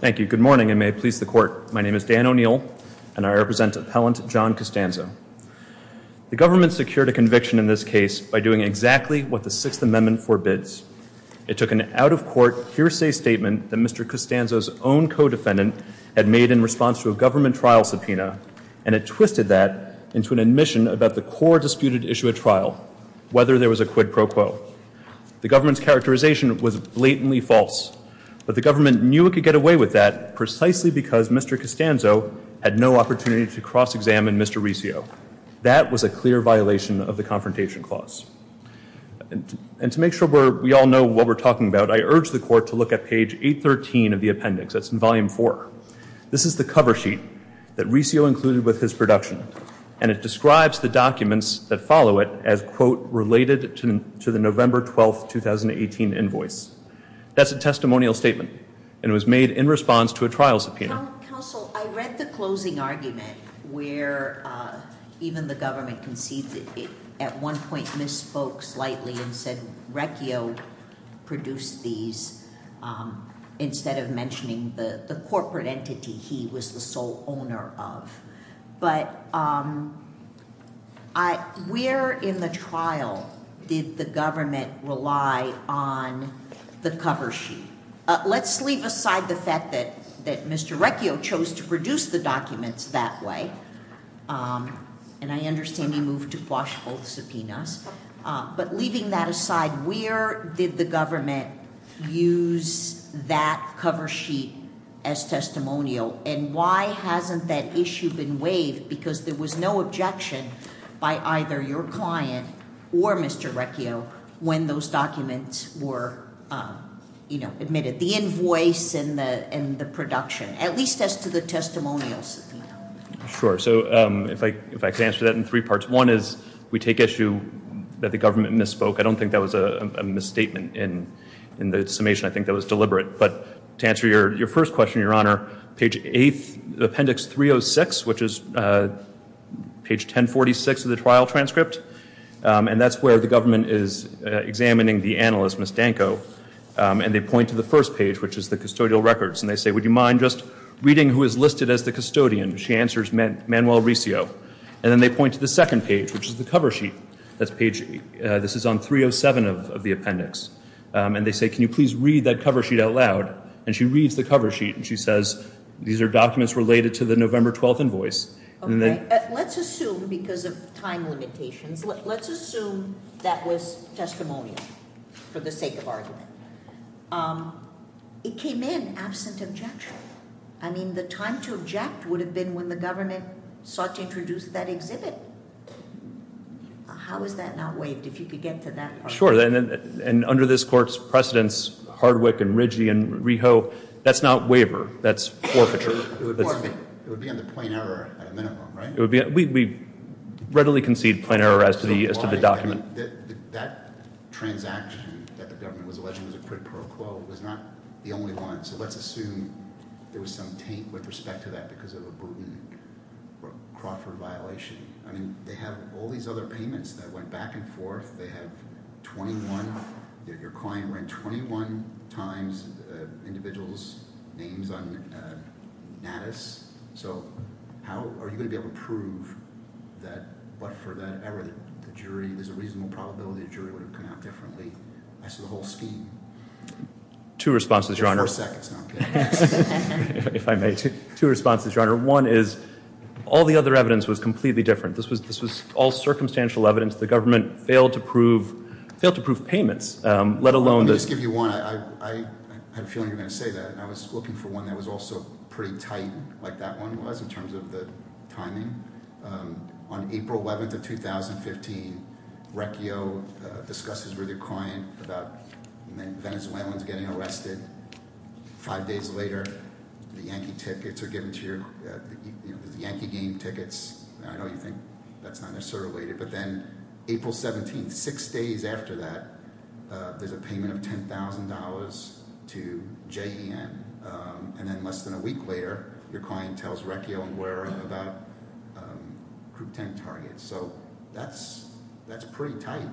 Thank you. Good morning, and may it please the Court. My name is Dan O'Neill, and I represent Appellant John Costanzo. The government secured a conviction in this case by doing exactly what the Sixth Amendment forbids. It took an out-of-court hearsay statement that Mr. Costanzo's own co-defendant had made in response to a government trial subpoena, and it twisted that into an admission about the core disputed issue at trial, whether there was a quid pro quo. The government's characterization was blatantly false, but the government knew it could get away with that precisely because Mr. Costanzo had no opportunity to cross-examine Mr. Riccio. That was a clear violation of the Confrontation Clause. And to make sure we all know what we're talking about, I urge the Court to look at page 813 of the appendix. That's in volume four. This is the cover sheet that Riccio included with his production, and it describes the documents that follow it as, quote, related to the November 12, 2018, invoice. That's a testimonial statement, and it was made in response to a trial subpoena. Counsel, I read the closing argument where even the government conceded, at one point, misspoke slightly and said Riccio produced these instead of mentioning the corporate entity he was the sole owner of. But where in the trial did the government rely on the cover sheet? Let's leave aside the fact that Mr. Riccio chose to produce the documents that way, and I understand he moved to quash both subpoenas. But leaving that aside, where did the government use that cover sheet as testimonial, and why hasn't that issue been waived? Because there was no objection by either your client or Mr. Riccio when those documents were admitted, the invoice and the production, at least as to the testimonials. Sure. So if I could answer that in three parts. One is we take issue that the government misspoke. I don't think that was a misstatement in the summation. I think that was deliberate. But to answer your first question, Your Honor, page 8, appendix 306, which is page 1046 of the trial transcript, and that's where the government is examining the analyst, Ms. Danko, and they point to the first page, which is the custodial records, and they say, Would you mind just reading who is listed as the custodian? She answers Manuel Riccio. And then they point to the second page, which is the cover sheet. This is on 307 of the appendix. And they say, Can you please read that cover sheet out loud? And she reads the cover sheet and she says, These are documents related to the November 12th invoice. Let's assume, because of time limitations, let's assume that was testimonial for the sake of argument. It came in absent objection. I mean, the time to object would have been when the government sought to introduce that exhibit. How is that not waived, if you could get to that point? Sure. And under this Court's precedents, Hardwick and Riggi and Riho, that's not waiver. That's forfeiture. It would be on the plain error at a minimum, right? We readily concede plain error as to the document. That transaction that the government was alleging was a quid pro quo was not the only one. So let's assume there was some taint with respect to that because of a Bruton Crawford violation. I mean, they have all these other payments that went back and forth. They have 21, your client ran 21 times individuals' names on Natus. So how are you going to be able to prove that, but for that error, the jury, there's a reasonable probability the jury would have come out differently? That's the whole scheme. Two responses, Your Honor. If I may, two responses, Your Honor. One is all the other evidence was completely different. This was all circumstantial evidence. The government failed to prove payments, let alone the- Let me just give you one. I have a feeling you're going to say that. I was looking for one that was also pretty tight like that one was in terms of the timing. On April 11th of 2015, Recchio discusses with your client about the Venezuelans getting arrested. Five days later, the Yankee tickets are given to your – the Yankee game tickets. I know you think that's not necessarily related, but then April 17th, six days after that, there's a payment of $10,000 to JEN. And then less than a week later, your client tells Recchio and Guerra about Group 10 targets. So that's pretty tight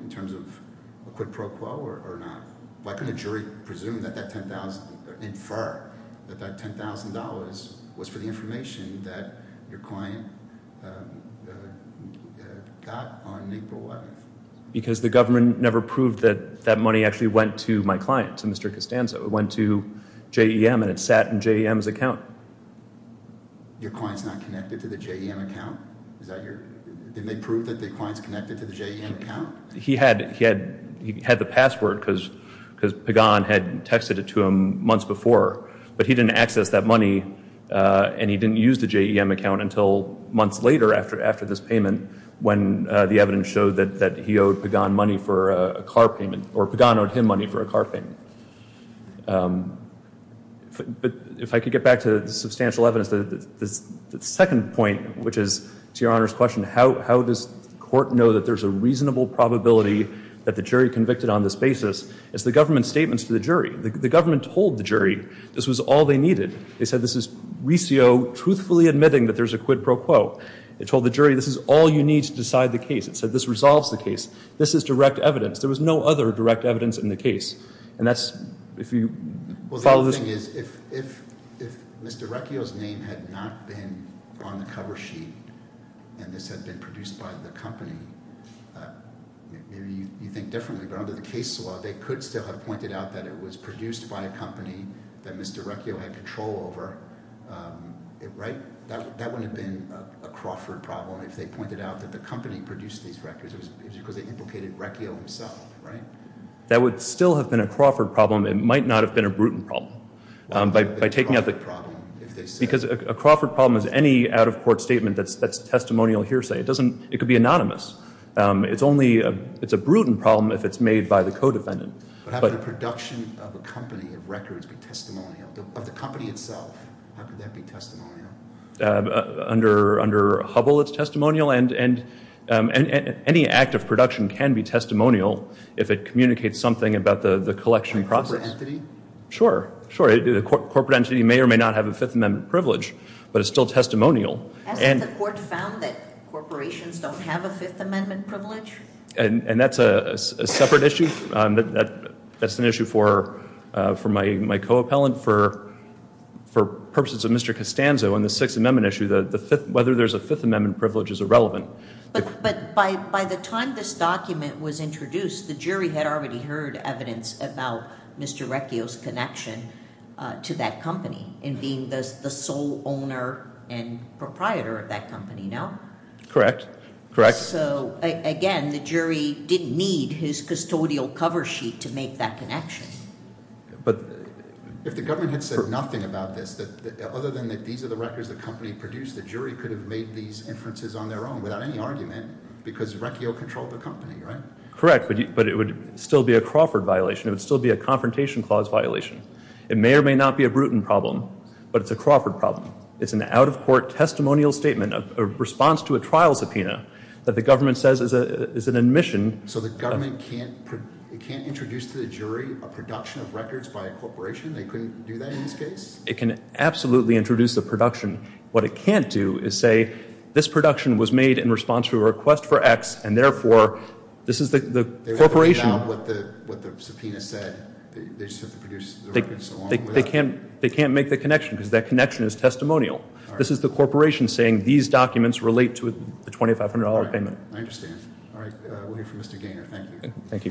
in terms of a quid pro quo or not. Why couldn't a jury presume that that 10,000 – infer that that $10,000 was for the information that your client got on April 11th? Because the government never proved that that money actually went to my client, to Mr. Costanzo. It went to JEM, and it sat in JEM's account. Your client's not connected to the JEM account? Is that your – didn't they prove that the client's connected to the JEM account? He had the password because Pagan had texted it to him months before. But he didn't access that money, and he didn't use the JEM account until months later after this payment when the evidence showed that he owed Pagan money for a car payment, or Pagan owed him money for a car payment. But if I could get back to the substantial evidence, the second point, which is to Your Honor's question, how does the court know that there's a reasonable probability that the jury convicted on this basis? It's the government's statements to the jury. The government told the jury this was all they needed. They said this is Resio truthfully admitting that there's a quid pro quo. It told the jury this is all you need to decide the case. It said this resolves the case. This is direct evidence. There was no other direct evidence in the case. And that's – if you follow this – if Mr. Recchio's name had not been on the cover sheet and this had been produced by the company, maybe you think differently, but under the case law, they could still have pointed out that it was produced by a company that Mr. Recchio had control over, right? That wouldn't have been a Crawford problem if they pointed out that the company produced these records. It was because they implicated Recchio himself, right? That would still have been a Crawford problem. It might not have been a Bruton problem by taking out the – because a Crawford problem is any out-of-court statement that's testimonial hearsay. It doesn't – it could be anonymous. It's only – it's a Bruton problem if it's made by the co-defendant. But how could the production of a company of records be testimonial, of the company itself? How could that be testimonial? Under Hubble, it's testimonial, and any act of production can be testimonial if it communicates something about the collection process. Sure, sure. A corporate entity may or may not have a Fifth Amendment privilege, but it's still testimonial. Hasn't the court found that corporations don't have a Fifth Amendment privilege? And that's a separate issue. That's an issue for my co-appellant. For purposes of Mr. Costanzo and the Sixth Amendment issue, whether there's a Fifth Amendment privilege is irrelevant. But by the time this document was introduced, the jury had already heard evidence about Mr. Recchio's connection to that company in being the sole owner and proprietor of that company, no? Correct, correct. So, again, the jury didn't need his custodial cover sheet to make that connection. But if the government had said nothing about this, other than that these are the records the company produced, the jury could have made these inferences on their own without any argument because Recchio controlled the company, right? Correct, but it would still be a Crawford violation. It would still be a Confrontation Clause violation. It may or may not be a Bruton problem, but it's a Crawford problem. It's an out-of-court testimonial statement, a response to a trial subpoena that the government says is an admission. So the government can't introduce to the jury a production of records by a corporation? They couldn't do that in this case? It can absolutely introduce a production. What it can't do is say this production was made in response to a request for X, and, therefore, this is the corporation. They wouldn't know what the subpoena said. They just have to produce the records alone? They can't make the connection because that connection is testimonial. This is the corporation saying these documents relate to the $2,500 payment. I understand. All right, we'll hear from Mr. Gaynor. Thank you. Thank you.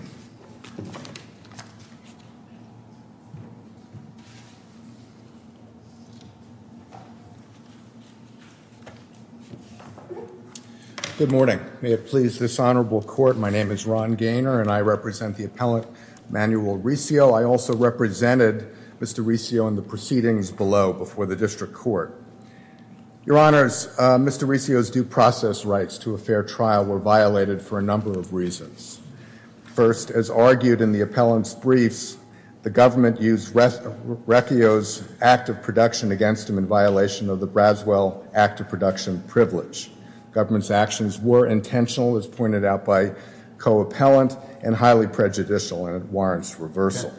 Good morning. May it please this honorable court, my name is Ron Gaynor, and I represent the appellant, Manuel Riccio. I also represented Mr. Riccio in the proceedings below before the district court. Your honors, Mr. Riccio's due process rights to a fair trial were violated for a number of reasons. First, as argued in the appellant's briefs, the government used Riccio's act of production against him in violation of the Bradswell act of production privilege. Government's actions were intentional, as pointed out by co-appellant, and highly prejudicial, and it warrants reversal.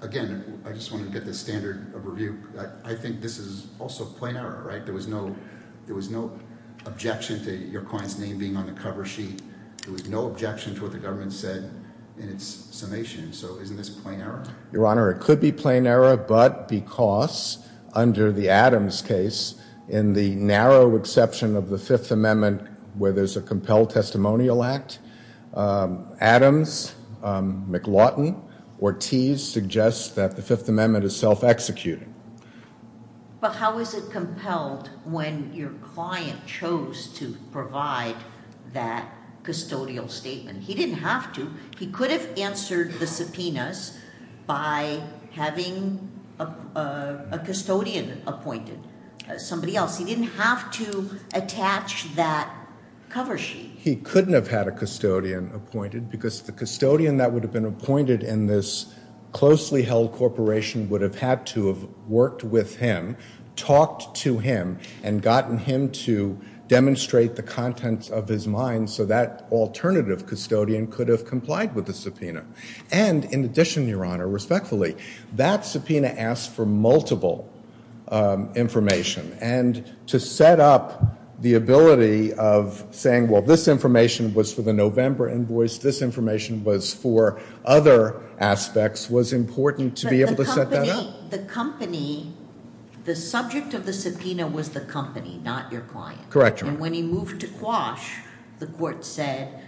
Again, I just want to get the standard of review. I think this is also plain error, right? There was no objection to your client's name being on the cover sheet. There was no objection to what the government said in its summation. So isn't this plain error? Your honor, it could be plain error, but because under the Adams case, in the narrow exception of the Fifth Amendment, where there's a compelled testimonial act, Adams, McLaughlin, Ortiz suggests that the Fifth Amendment is self-executing. But how is it compelled when your client chose to provide that custodial statement? He didn't have to. He could have answered the subpoenas by having a custodian appointed, somebody else. He didn't have to attach that cover sheet. He couldn't have had a custodian appointed, because the custodian that would have been appointed in this closely held corporation would have had to have worked with him, talked to him, and gotten him to demonstrate the contents of his mind so that alternative custodian could have complied with the subpoena. And in addition, your honor, respectfully, that subpoena asked for multiple information. And to set up the ability of saying, well, this information was for the November invoice, this information was for other aspects, was important to be able to set that up. But the company, the subject of the subpoena was the company, not your client. Correct, your honor. And when he moved to Quash, the court said,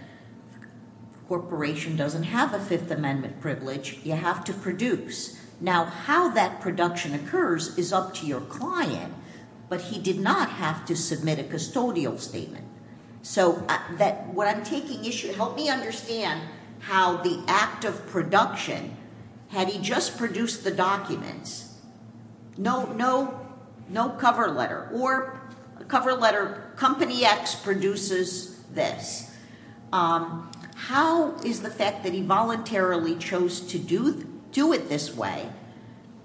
corporation doesn't have a Fifth Amendment privilege. You have to produce. Now, how that production occurs is up to your client, but he did not have to submit a custodial statement. So what I'm taking issue, help me understand how the act of production, had he just produced the documents, no cover letter, or cover letter, company X produces this. How is the fact that he voluntarily chose to do it this way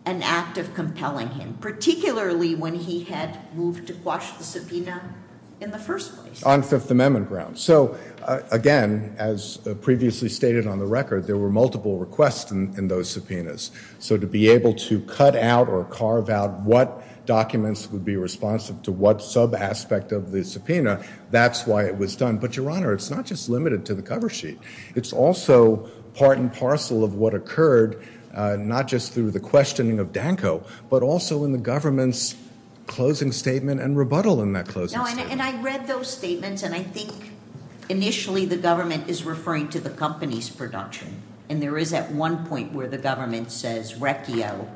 an act of compelling him, particularly when he had moved to Quash the subpoena in the first place? On Fifth Amendment grounds. So, again, as previously stated on the record, there were multiple requests in those subpoenas. So to be able to cut out or carve out what documents would be responsive to what sub aspect of the subpoena, that's why it was done. But your honor, it's not just limited to the cover sheet. It's also part and parcel of what occurred, not just through the questioning of Danko, but also in the government's closing statement and rebuttal in that closing statement. No, and I read those statements, and I think initially the government is referring to the company's production. And there is at one point where the government says RECCIO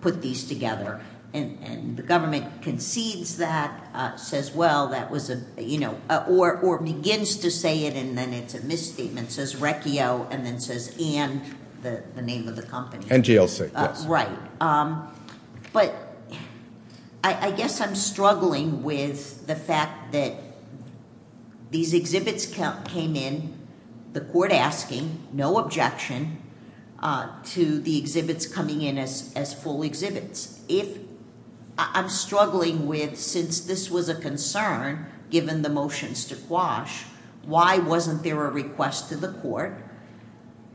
put these together. And the government concedes that, says, well, that was a, you know, or begins to say it, and then it's a misstatement, says RECCIO, and then says and the name of the company. NGLC, yes. Right. But I guess I'm struggling with the fact that these exhibits came in, the court asking, no objection to the exhibits coming in as full exhibits. If I'm struggling with since this was a concern given the motions to quash, why wasn't there a request to the court?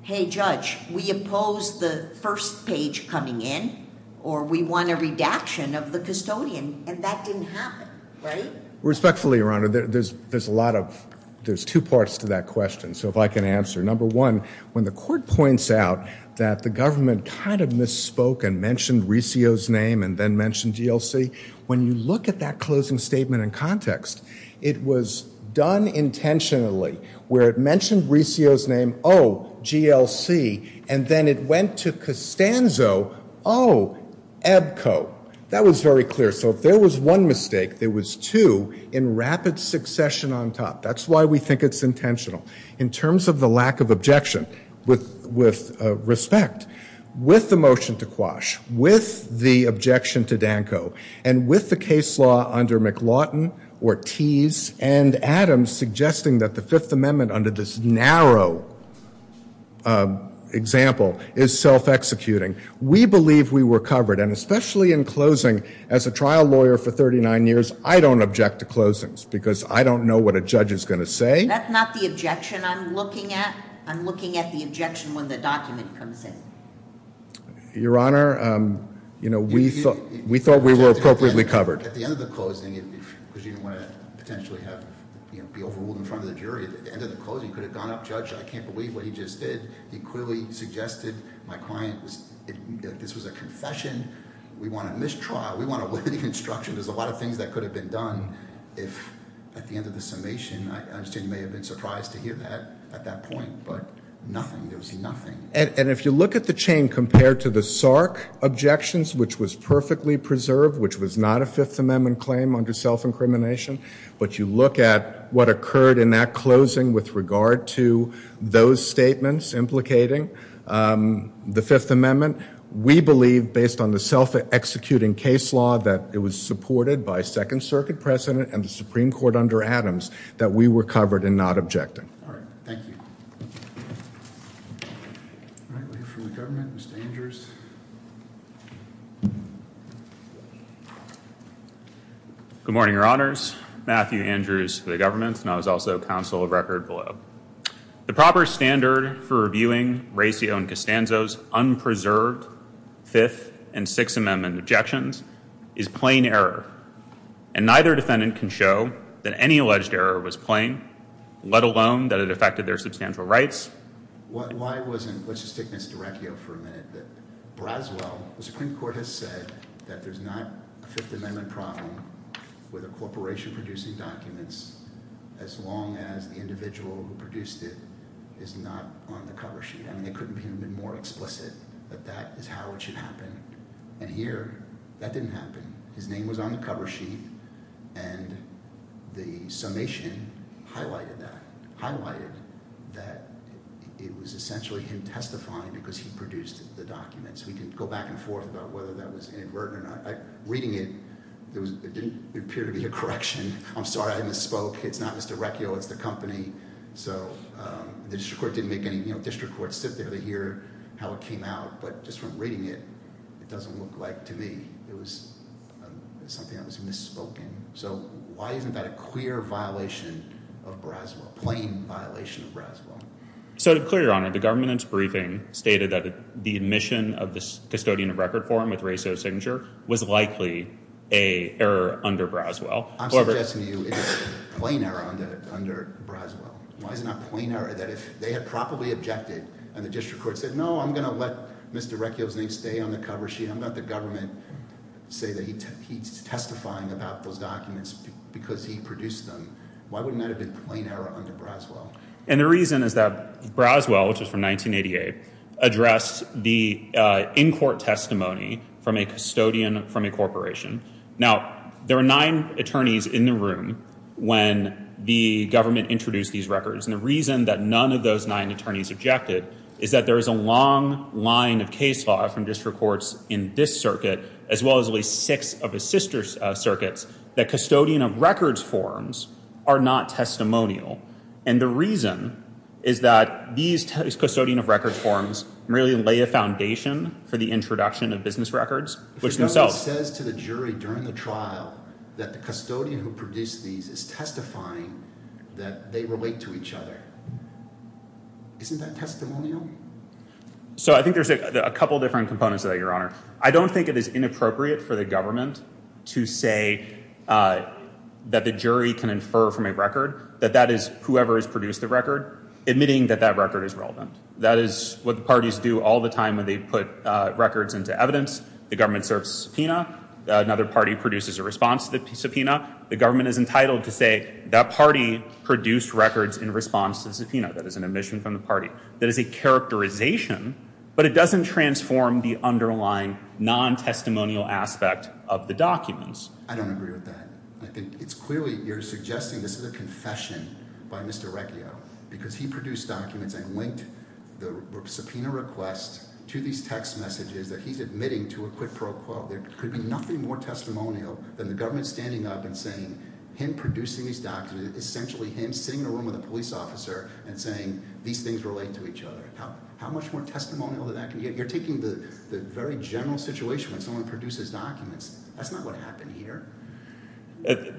Hey, Judge, we oppose the first page coming in, or we want a redaction of the custodian, and that didn't happen, right? Respectfully, Your Honor, there's a lot of, there's two parts to that question, so if I can answer. Number one, when the court points out that the government kind of misspoke and mentioned RECCIO's name and then mentioned GLC, when you look at that closing statement in context, it was done intentionally where it mentioned RECCIO's name, oh, GLC, and then it went to Costanzo, oh, EBCO. That was very clear. So if there was one mistake, there was two in rapid succession on top. That's why we think it's intentional. In terms of the lack of objection, with respect, with the motion to quash, with the objection to Danko, and with the case law under McLaughton or Tease and Adams suggesting that the Fifth Amendment under this narrow example is self-executing, we believe we were covered, and especially in closing, as a trial lawyer for 39 years, I don't object to closings because I don't know what a judge is going to say. That's not the objection I'm looking at. I'm looking at the objection when the document comes in. Your Honor, we thought we were appropriately covered. At the end of the closing, because you didn't want to potentially be overruled in front of the jury, at the end of the closing, you could have gone up, judge, I can't believe what he just did. He clearly suggested, my client, this was a confession. We want a mistrial. We want a limiting instruction. There's a lot of things that could have been done if, at the end of the summation, I understand you may have been surprised to hear that at that point, but nothing. There was nothing. And if you look at the chain compared to the Sark objections, which was perfectly preserved, which was not a Fifth Amendment claim under self-incrimination, but you look at what occurred in that closing with regard to those statements implicating the Fifth Amendment, we believe, based on the self-executing case law that it was supported by Second Circuit precedent and the Supreme Court under Adams, that we were covered in not objecting. All right. Thank you. All right. We have for the government, Mr. Andrews. Good morning, Your Honors. Matthew Andrews for the government, and I was also counsel of record below. The proper standard for reviewing Recio and Costanzo's unpreserved Fifth and Sixth Amendment objections is plain error, and neither defendant can show that any alleged error was plain, let alone that it affected their substantial rights. Why wasn't, let's just take Mr. Recio for a minute, that Braswell, the Supreme Court has said that there's not a Fifth Amendment problem with a corporation producing documents as long as the individual who produced it is not on the cover sheet. I mean, it could have been more explicit, but that is how it should happen. And here, that didn't happen. His name was on the cover sheet, and the summation highlighted that. Highlighted that it was essentially him testifying because he produced the documents. We can go back and forth about whether that was inadvertent or not. Reading it, it didn't appear to be a correction. I'm sorry I misspoke. It's not Mr. Recio. It's the company. So the district court didn't make any, you know, district courts sit there to hear how it came out, but just from reading it, it doesn't look like to me. It was something that was misspoken. So why isn't that a clear violation of Braswell, plain violation of Braswell? So to be clear, Your Honor, the government in its briefing stated that the admission of this custodian of record form with Recio's signature was likely an error under Braswell. I'm suggesting to you it's a plain error under Braswell. Why is it not a plain error that if they had properly objected, and the district court said no, I'm going to let Mr. Recio's name stay on the cover sheet, I'm going to let the government say that he's testifying about those documents because he produced them. Why wouldn't that have been a plain error under Braswell? And the reason is that Braswell, which was from 1988, addressed the in-court testimony from a custodian from a corporation. Now, there were nine attorneys in the room when the government introduced these records, and the reason that none of those nine attorneys objected is that there is a long line of case law from district courts in this circuit, as well as at least six of his sister circuits, that custodian of records forms are not testimonial. And the reason is that these custodian of records forms really lay a foundation for the introduction of business records, which themselves— If the government says to the jury during the trial that the custodian who produced these is testifying that they relate to each other, isn't that testimonial? So I think there's a couple different components of that, Your Honor. I don't think it is inappropriate for the government to say that the jury can infer from a record that that is whoever has produced the record, admitting that that record is relevant. That is what the parties do all the time when they put records into evidence. The government serves subpoena. Another party produces a response to the subpoena. The government is entitled to say that party produced records in response to the subpoena. That is an admission from the party. That is a characterization, but it doesn't transform the underlying non-testimonial aspect of the documents. I don't agree with that. I think it's clearly—you're suggesting this is a confession by Mr. Recchio, because he produced documents and linked the subpoena request to these text messages that he's admitting to a quid pro quo. There could be nothing more testimonial than the government standing up and saying, him producing these documents is essentially him sitting in a room with a police officer and saying these things relate to each other. How much more testimonial can that get? You're taking the very general situation when someone produces documents. That's not what happened here.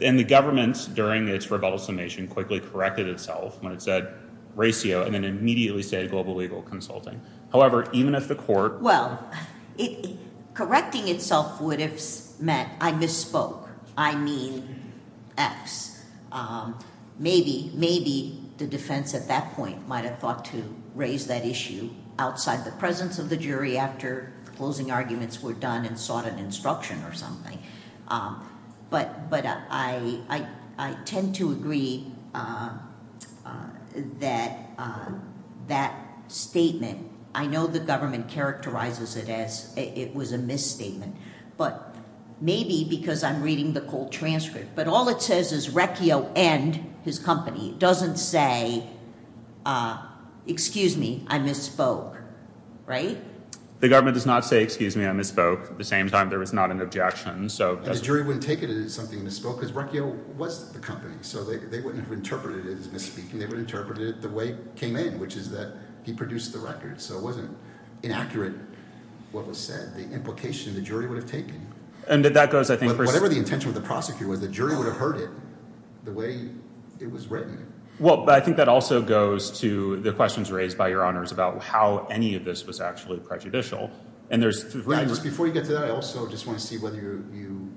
And the government, during its rebuttal summation, quickly corrected itself when it said Recchio and then immediately said Global Legal Consulting. However, even if the court— correcting itself would have meant I misspoke. I mean X. Maybe the defense at that point might have thought to raise that issue outside the presence of the jury after the closing arguments were done and sought an instruction or something. But I tend to agree that that statement— I don't think the government characterizes it as it was a misstatement. But maybe because I'm reading the cold transcript. But all it says is Recchio and his company. It doesn't say, excuse me, I misspoke. Right? The government does not say, excuse me, I misspoke. At the same time, there was not an objection. The jury wouldn't take it as something misspoke because Recchio was the company. So they wouldn't have interpreted it as misspeaking. They would have interpreted it the way it came in, which is that he produced the records. So it wasn't inaccurate what was said, the implication the jury would have taken. And that goes, I think— Whatever the intention of the prosecutor was, the jury would have heard it the way it was written. Well, but I think that also goes to the questions raised by Your Honors about how any of this was actually prejudicial. And there's— Before you get to that, I also just want to see whether you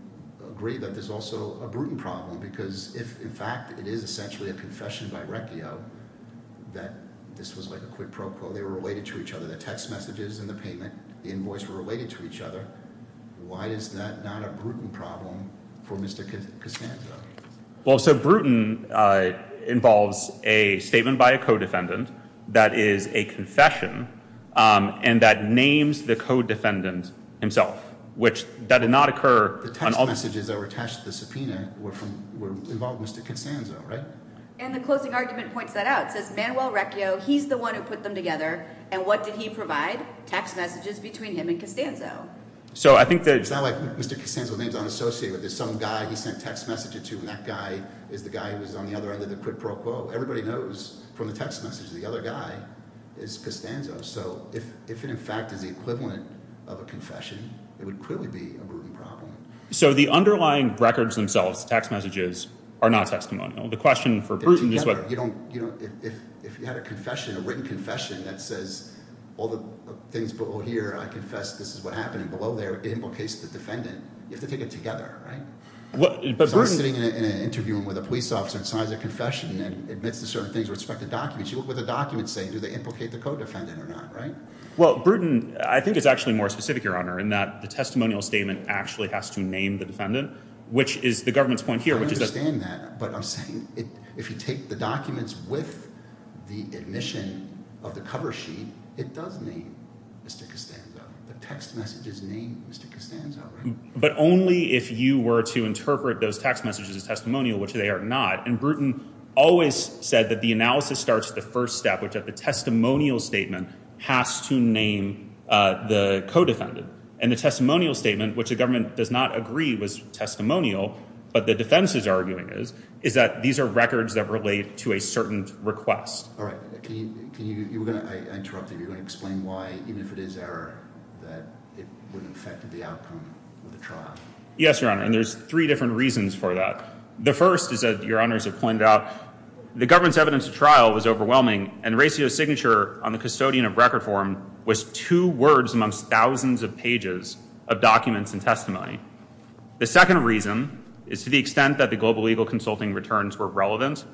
agree that there's also a Bruton problem because if, in fact, it is essentially a confession by Recchio that this was like a quid pro quo, they were related to each other, the text messages and the payment, the invoice were related to each other. Why is that not a Bruton problem for Mr. Casanzo? Well, so Bruton involves a statement by a co-defendant that is a confession and that names the co-defendant himself, which that did not occur— The text messages that were attached to the subpoena involved Mr. Casanzo, right? And the closing argument points that out. He's the one who put them together, and what did he provide? Text messages between him and Casanzo. So I think that— It's not like Mr. Casanzo's name is unassociated with this. Some guy he sent text messages to, and that guy is the guy who was on the other end of the quid pro quo. Everybody knows from the text messages the other guy is Casanzo. So if it, in fact, is the equivalent of a confession, it would clearly be a Bruton problem. So the underlying records themselves, the text messages, are not testimonial. The question for Bruton is whether— If you had a confession, a written confession, that says all the things below here, I confess this is what happened, and below there, it implicates the defendant, you have to take it together, right? Somebody's sitting in an interview room with a police officer and signs a confession and admits to certain things with respect to documents. You look at what the documents say. Do they implicate the co-defendant or not, right? Well, Bruton, I think, is actually more specific, Your Honor, in that the testimonial statement actually has to name the defendant, which is the government's point here, which is that— The documents with the admission of the cover sheet, it does name Mr. Casanzo. The text messages name Mr. Casanzo, right? But only if you were to interpret those text messages as testimonial, which they are not. And Bruton always said that the analysis starts at the first step, which is the testimonial statement has to name the co-defendant. And the testimonial statement, which the government does not agree was testimonial, but the defense is arguing is, is that these are records that relate to a certain request. All right. You were going to—I interrupted. You were going to explain why, even if it is error, that it wouldn't affect the outcome of the trial. Yes, Your Honor. And there's three different reasons for that. The first is that Your Honors have pointed out the government's evidence of trial was overwhelming, and Recio's signature on the custodian of record form was two words amongst thousands of pages of documents and testimony. The second reason is to the extent that the global legal consulting returns were relevant,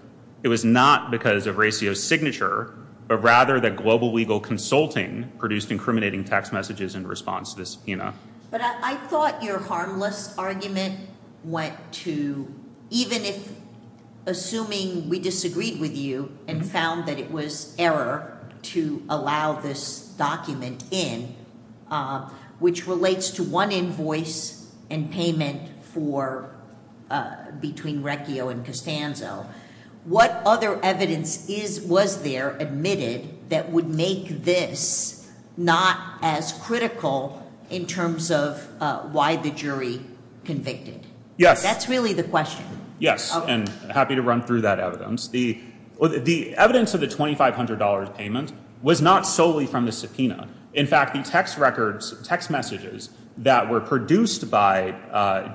it was not because of Recio's signature, but rather that global legal consulting produced incriminating text messages in response to this, you know. But I thought your harmless argument went to even if—assuming we disagreed with you and found that it was error to allow this document in, which relates to one invoice and payment for—between Recio and Costanzo, what other evidence is—was there admitted that would make this not as critical in terms of why the jury convicted? Yes. That's really the question. Yes. And happy to run through that evidence. The evidence of the $2,500 payment was not solely from the subpoena. In fact, the text records—text messages that were produced by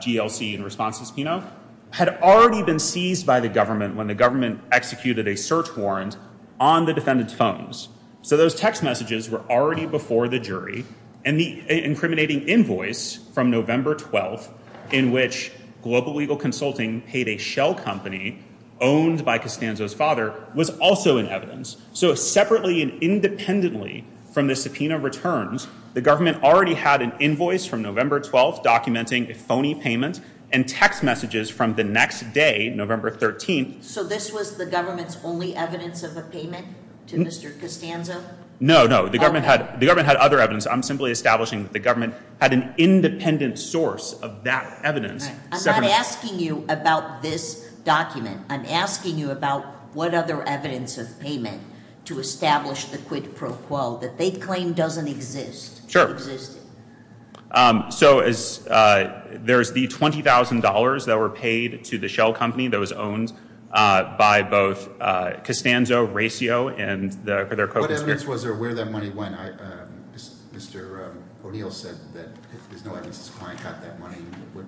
GLC in response to the subpoena had already been seized by the government when the government executed a search warrant on the defendant's phones. So those text messages were already before the jury, and the incriminating invoice from November 12th in which global legal consulting paid a shell company owned by Costanzo's father was also in evidence. So separately and independently from the subpoena returns, the government already had an invoice from November 12th documenting a phony payment and text messages from the next day, November 13th. So this was the government's only evidence of a payment to Mr. Costanzo? No, no. The government had other evidence. I'm simply establishing that the government had an independent source of that evidence. I'm not asking you about this document. I'm asking you about what other evidence of payment to establish the quid pro quo that they claim doesn't exist. Sure. Existed. So there's the $20,000 that were paid to the shell company that was owned by both Costanzo, Racio, and their co-conspirators. Was there where that money went? Mr. O'Neill said that his client got that money.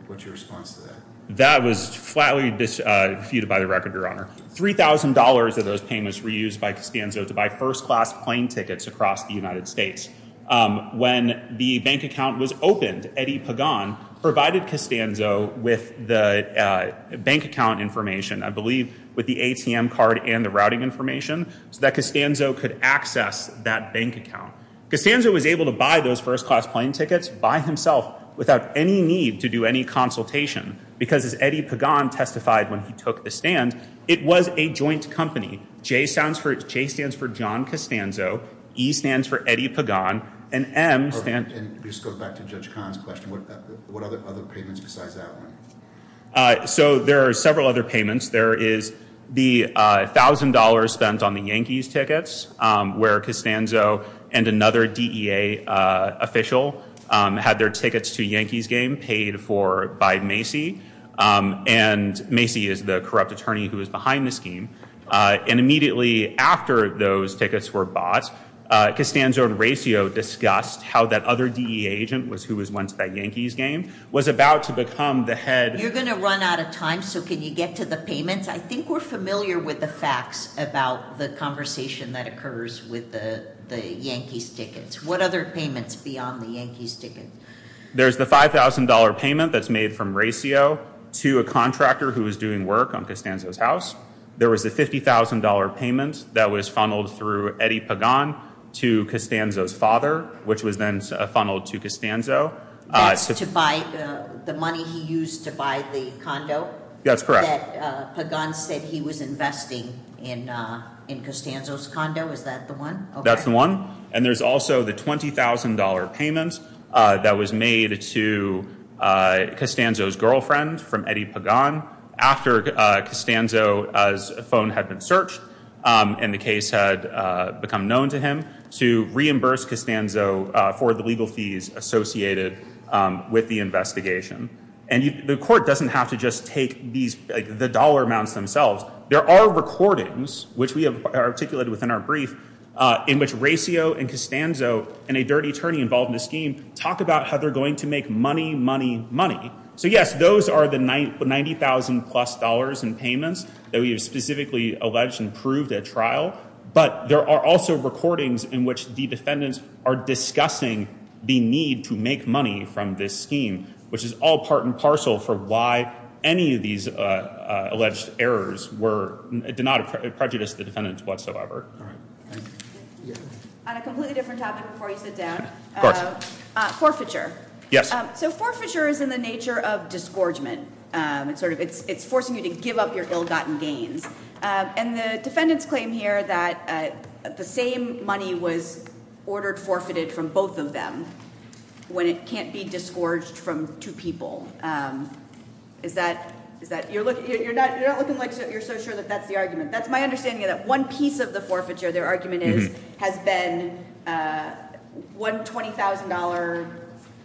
What's your response to that? That was flatly defeated by the record, Your Honor. $3,000 of those payments were used by Costanzo to buy first class plane tickets across the United States. When the bank account was opened, provided Costanzo with the bank account information, I believe with the ATM card and the routing information, so that Costanzo could access that bank account. Costanzo was able to buy those first class plane tickets by himself without any need to do any consultation, because as Eddie Pagan testified when he took the stand, it was a joint company. J stands for John Costanzo. E stands for Eddie Pagan. This goes back to Judge Kahn's question. What other payments besides that one? There are several other payments. There is the $1,000 spent on the Yankees tickets, where Costanzo and another DEA official had their tickets to a Yankees game paid for by Macy. Macy is the corrupt attorney who was behind the scheme. And immediately after those tickets were bought, Costanzo and Raccio discussed how that other DEA agent, who was once at that Yankees game, was about to become the head. You're going to run out of time, so can you get to the payments? I think we're familiar with the facts about the conversation that occurs with the Yankees tickets. What other payments beyond the Yankees tickets? There's the $5,000 payment that's made from Raccio to a contractor who was doing work on Costanzo's house. There was a $50,000 payment that was funneled through Eddie Pagan to Costanzo's father, which was then funneled to Costanzo. That's to buy the money he used to buy the condo? That's correct. Pagan said he was investing in Costanzo's condo. Is that the one? That's the one. And there's also the $20,000 payment that was made to Costanzo's girlfriend from Eddie Pagan after Costanzo's phone had been searched and the case had become known to him to reimburse Costanzo for the legal fees associated with the investigation. And the court doesn't have to just take the dollar amounts themselves. There are recordings, which we have articulated within our brief, in which Raccio and Costanzo and a dirty attorney involved in the scheme talk about how they're going to make money, money, money. So, yes, those are the $90,000-plus in payments that we have specifically alleged and proved at trial. But there are also recordings in which the defendants are discussing the need to make money from this scheme, which is all part and parcel for why any of these alleged errors did not prejudice the defendants whatsoever. On a completely different topic before you sit down, forfeiture. Yes. So forfeiture is in the nature of disgorgement. It's forcing you to give up your ill-gotten gains. And the defendants claim here that the same money was ordered forfeited from both of them when it can't be disgorged from two people. You're not looking like you're so sure that that's the argument. That's my understanding of that. One piece of the forfeiture, their argument is, has been one $20,000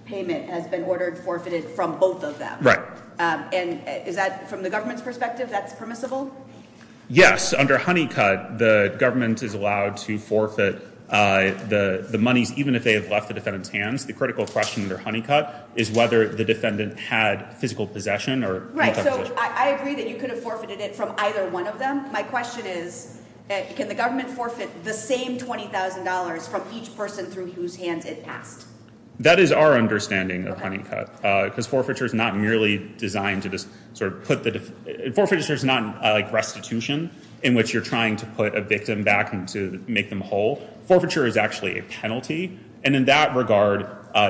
payment has been ordered forfeited from both of them. And is that, from the government's perspective, that's permissible? Yes. Under Honeycutt, the government is allowed to forfeit the monies even if they have left the defendant's hands. The critical question under Honeycutt is whether the defendant had physical possession or multiple possession. So I agree that you could have forfeited it from either one of them. My question is, can the government forfeit the same $20,000 from each person through whose hands it passed? That is our understanding of Honeycutt. Because forfeiture is not merely designed to just sort of put the... Forfeiture is not like restitution in which you're trying to put a victim back and to make them whole. Forfeiture is actually a penalty. And in that regard,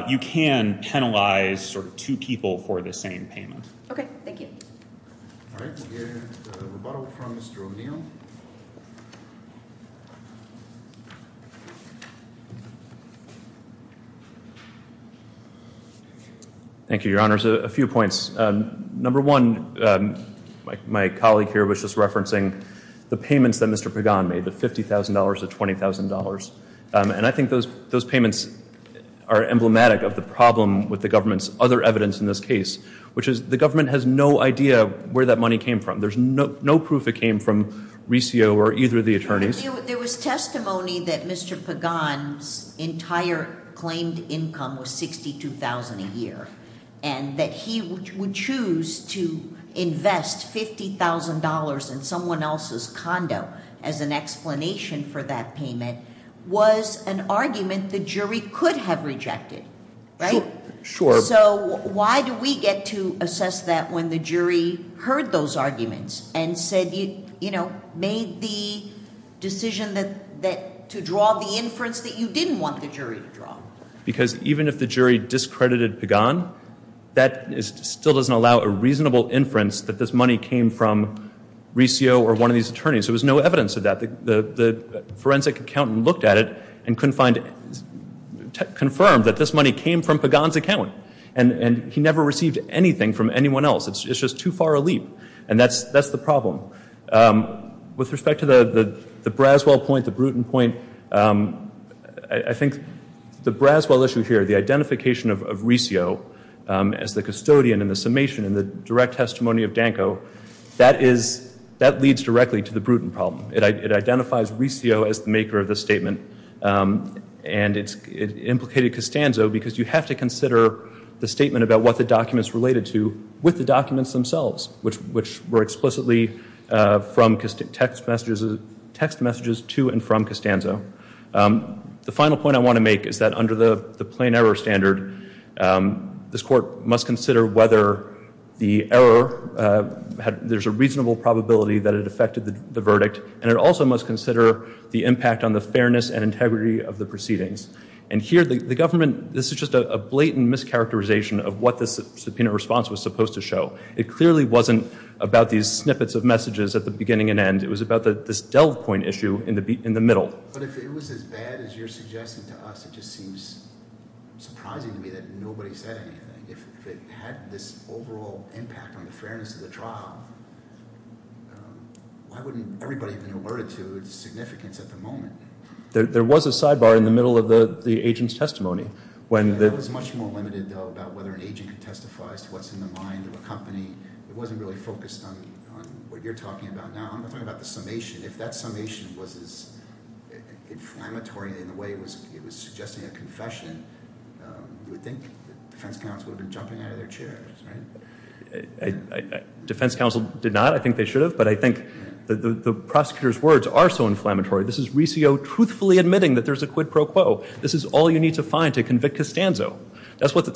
you can penalize sort of two people for the same payment. Okay. Thank you. All right. We'll get a rebuttal from Mr. O'Neill. Thank you, Your Honors. A few points. Number one, my colleague here was just referencing the payments that Mr. Pagan made, the $50,000 to $20,000. And I think those payments are emblematic of the problem with the government's other evidence in this case, which is the government has no idea where that money came from. There's no proof it came from Resio or either of the attorneys. There was testimony that Mr. Pagan's entire claimed income was $62,000 a year and that he would choose to invest $50,000 in someone else's condo as an explanation for that payment was an argument the jury could have rejected, right? Sure. So why do we get to assess that when the jury heard those arguments and said, you know, made the decision to draw the inference that you didn't want the jury to draw? Because even if the jury discredited Pagan, that still doesn't allow a reasonable inference that this money came from Resio or one of these attorneys. There was no evidence of that. The forensic accountant looked at it and confirmed that this money came from Pagan's account and he never received anything from anyone else. It's just too far a leap. And that's the problem. With respect to the Braswell point, the Bruton point, I think the Braswell issue here, the identification of Resio as the custodian and the summation and the direct testimony of Danko, that leads directly to the Bruton problem. It identifies Resio as the maker of this statement. And it implicated Costanzo because you have to consider the statement about what the document's related to with the documents themselves, which were explicitly from text messages to and from Costanzo. The final point I want to make is that under the plain error standard, this court must consider whether the error, there's a reasonable probability that it affected the verdict and it also must consider the impact on the fairness and integrity of the proceedings. And here the government, this is just a blatant mischaracterization of what this subpoena response was supposed to show. It clearly wasn't about these snippets of messages at the beginning and end. It was about this Delv point issue in the middle. But if it was as bad as you're suggesting to us, it just seems surprising to me that nobody said anything. If it had this overall impact on the fairness of the trial, why wouldn't everybody have been alerted to its significance at the moment? There was a sidebar in the middle of the agent's testimony. That was much more limited though about whether an agent could testify as to what's in the mind of a company. It wasn't really focused on what you're talking about now. I'm talking about the summation. If that summation was as inflammatory in the way it was suggesting a confession, you would think the defense counsel would have been jumping out of their chairs, right? Defense counsel did not. I think they should have. But I think the prosecutor's words are so inflammatory. This is Recio truthfully admitting that there's a quid pro quo. This is all you need to find to convict Costanzo. That's what the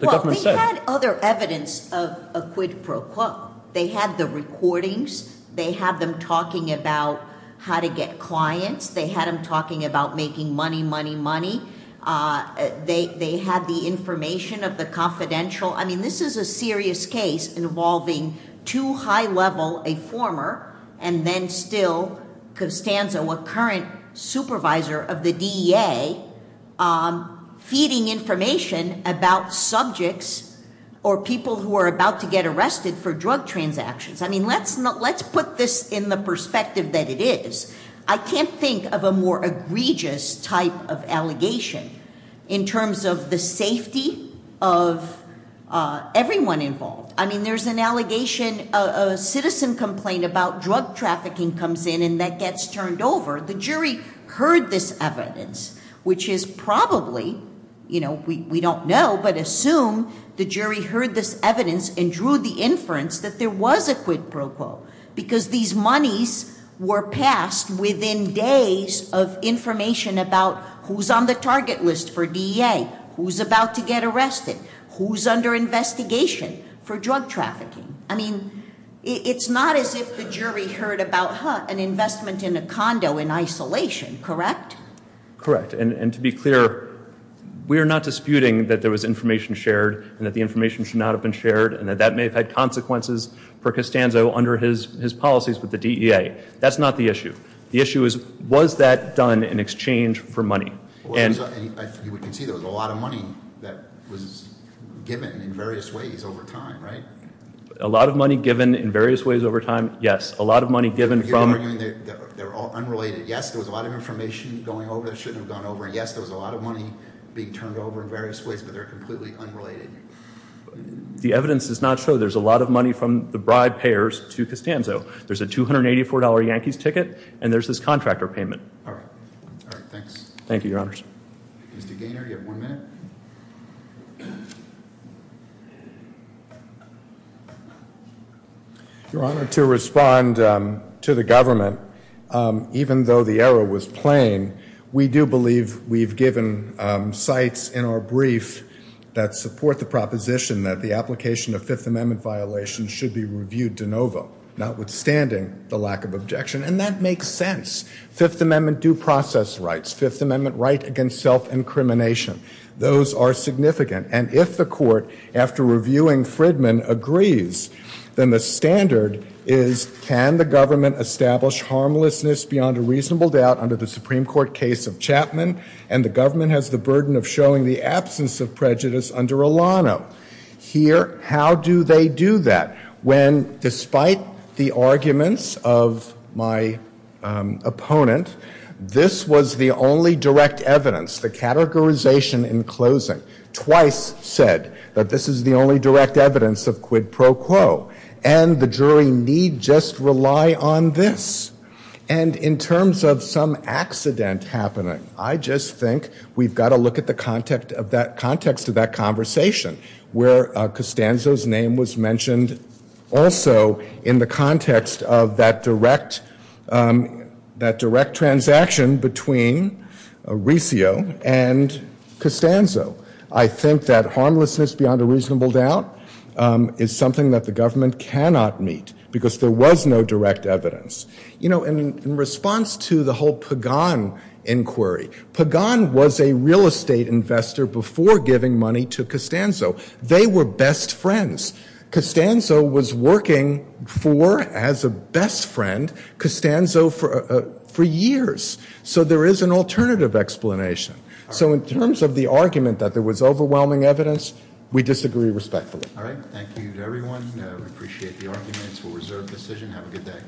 government said. Well, they had other evidence of a quid pro quo. They had the recordings. They had them talking about how to get clients. They had them talking about making money, money, money. They had the information of the confidential. I mean, this is a serious case involving too high level a former and then still Costanzo, a current supervisor of the DEA, feeding information about subjects or people who are about to get arrested for drug transactions. I mean, let's put this in the perspective that it is. I can't think of a more egregious type of allegation in terms of the safety of everyone involved. I mean, there's an allegation, a citizen complaint about drug trafficking comes in and that gets turned over. The jury heard this evidence, which is probably, you know, we don't know, but assume the jury heard this evidence and drew the inference that there was a quid pro quo because these monies were passed within days of information about who's on the target list for DEA, who's about to get arrested, who's under investigation for drug trafficking. I mean, it's not as if the jury heard about an investment in a condo in isolation, correct? Correct, and to be clear, we are not disputing that there was information shared and that the information should not have been shared and that that may have had consequences for Costanzo under his policies with the DEA. That's not the issue. The issue is, was that done in exchange for money? You can see there was a lot of money that was given in various ways over time, right? A lot of money given in various ways over time, yes. A lot of money given from- I mean, they're all unrelated. Yes, there was a lot of information going over that shouldn't have gone over, and yes, there was a lot of money being turned over in various ways, but they're completely unrelated. The evidence does not show there's a lot of money from the bribe payers to Costanzo. There's a $284 Yankees ticket, and there's this contractor payment. All right. All right, thanks. Thank you, Your Honors. Mr. Gaynor, you have one minute. Your Honor, to respond to the government, even though the error was plain, we do believe we've given sites in our brief that support the proposition that the application of Fifth Amendment violations should be reviewed de novo, notwithstanding the lack of objection, and that makes sense. Fifth Amendment due process rights, Fifth Amendment right against self-incrimination, those are significant, and if the court, after reviewing Fridman, agrees, then the standard is can the government establish harmlessness beyond a reasonable doubt under the Supreme Court case of Chapman, and the government has the burden of showing the absence of prejudice under Alano. Here, how do they do that when, despite the arguments of my opponent, this was the only direct evidence, the categorization in closing, twice said that this is the only direct evidence of quid pro quo, and the jury need just rely on this? And in terms of some accident happening, I just think we've got to look at the context of that conversation, where Costanzo's name was mentioned also in the context of that direct transaction between Riccio and Costanzo. I think that harmlessness beyond a reasonable doubt is something that the government cannot meet, because there was no direct evidence. You know, in response to the whole Pagan inquiry, Pagan was a real estate investor before giving money to Costanzo. They were best friends. Costanzo was working for, as a best friend, Costanzo for years. So there is an alternative explanation. So in terms of the argument that there was overwhelming evidence, we disagree respectfully. All right, thank you to everyone. We appreciate the arguments. We'll reserve the decision. Have a good day.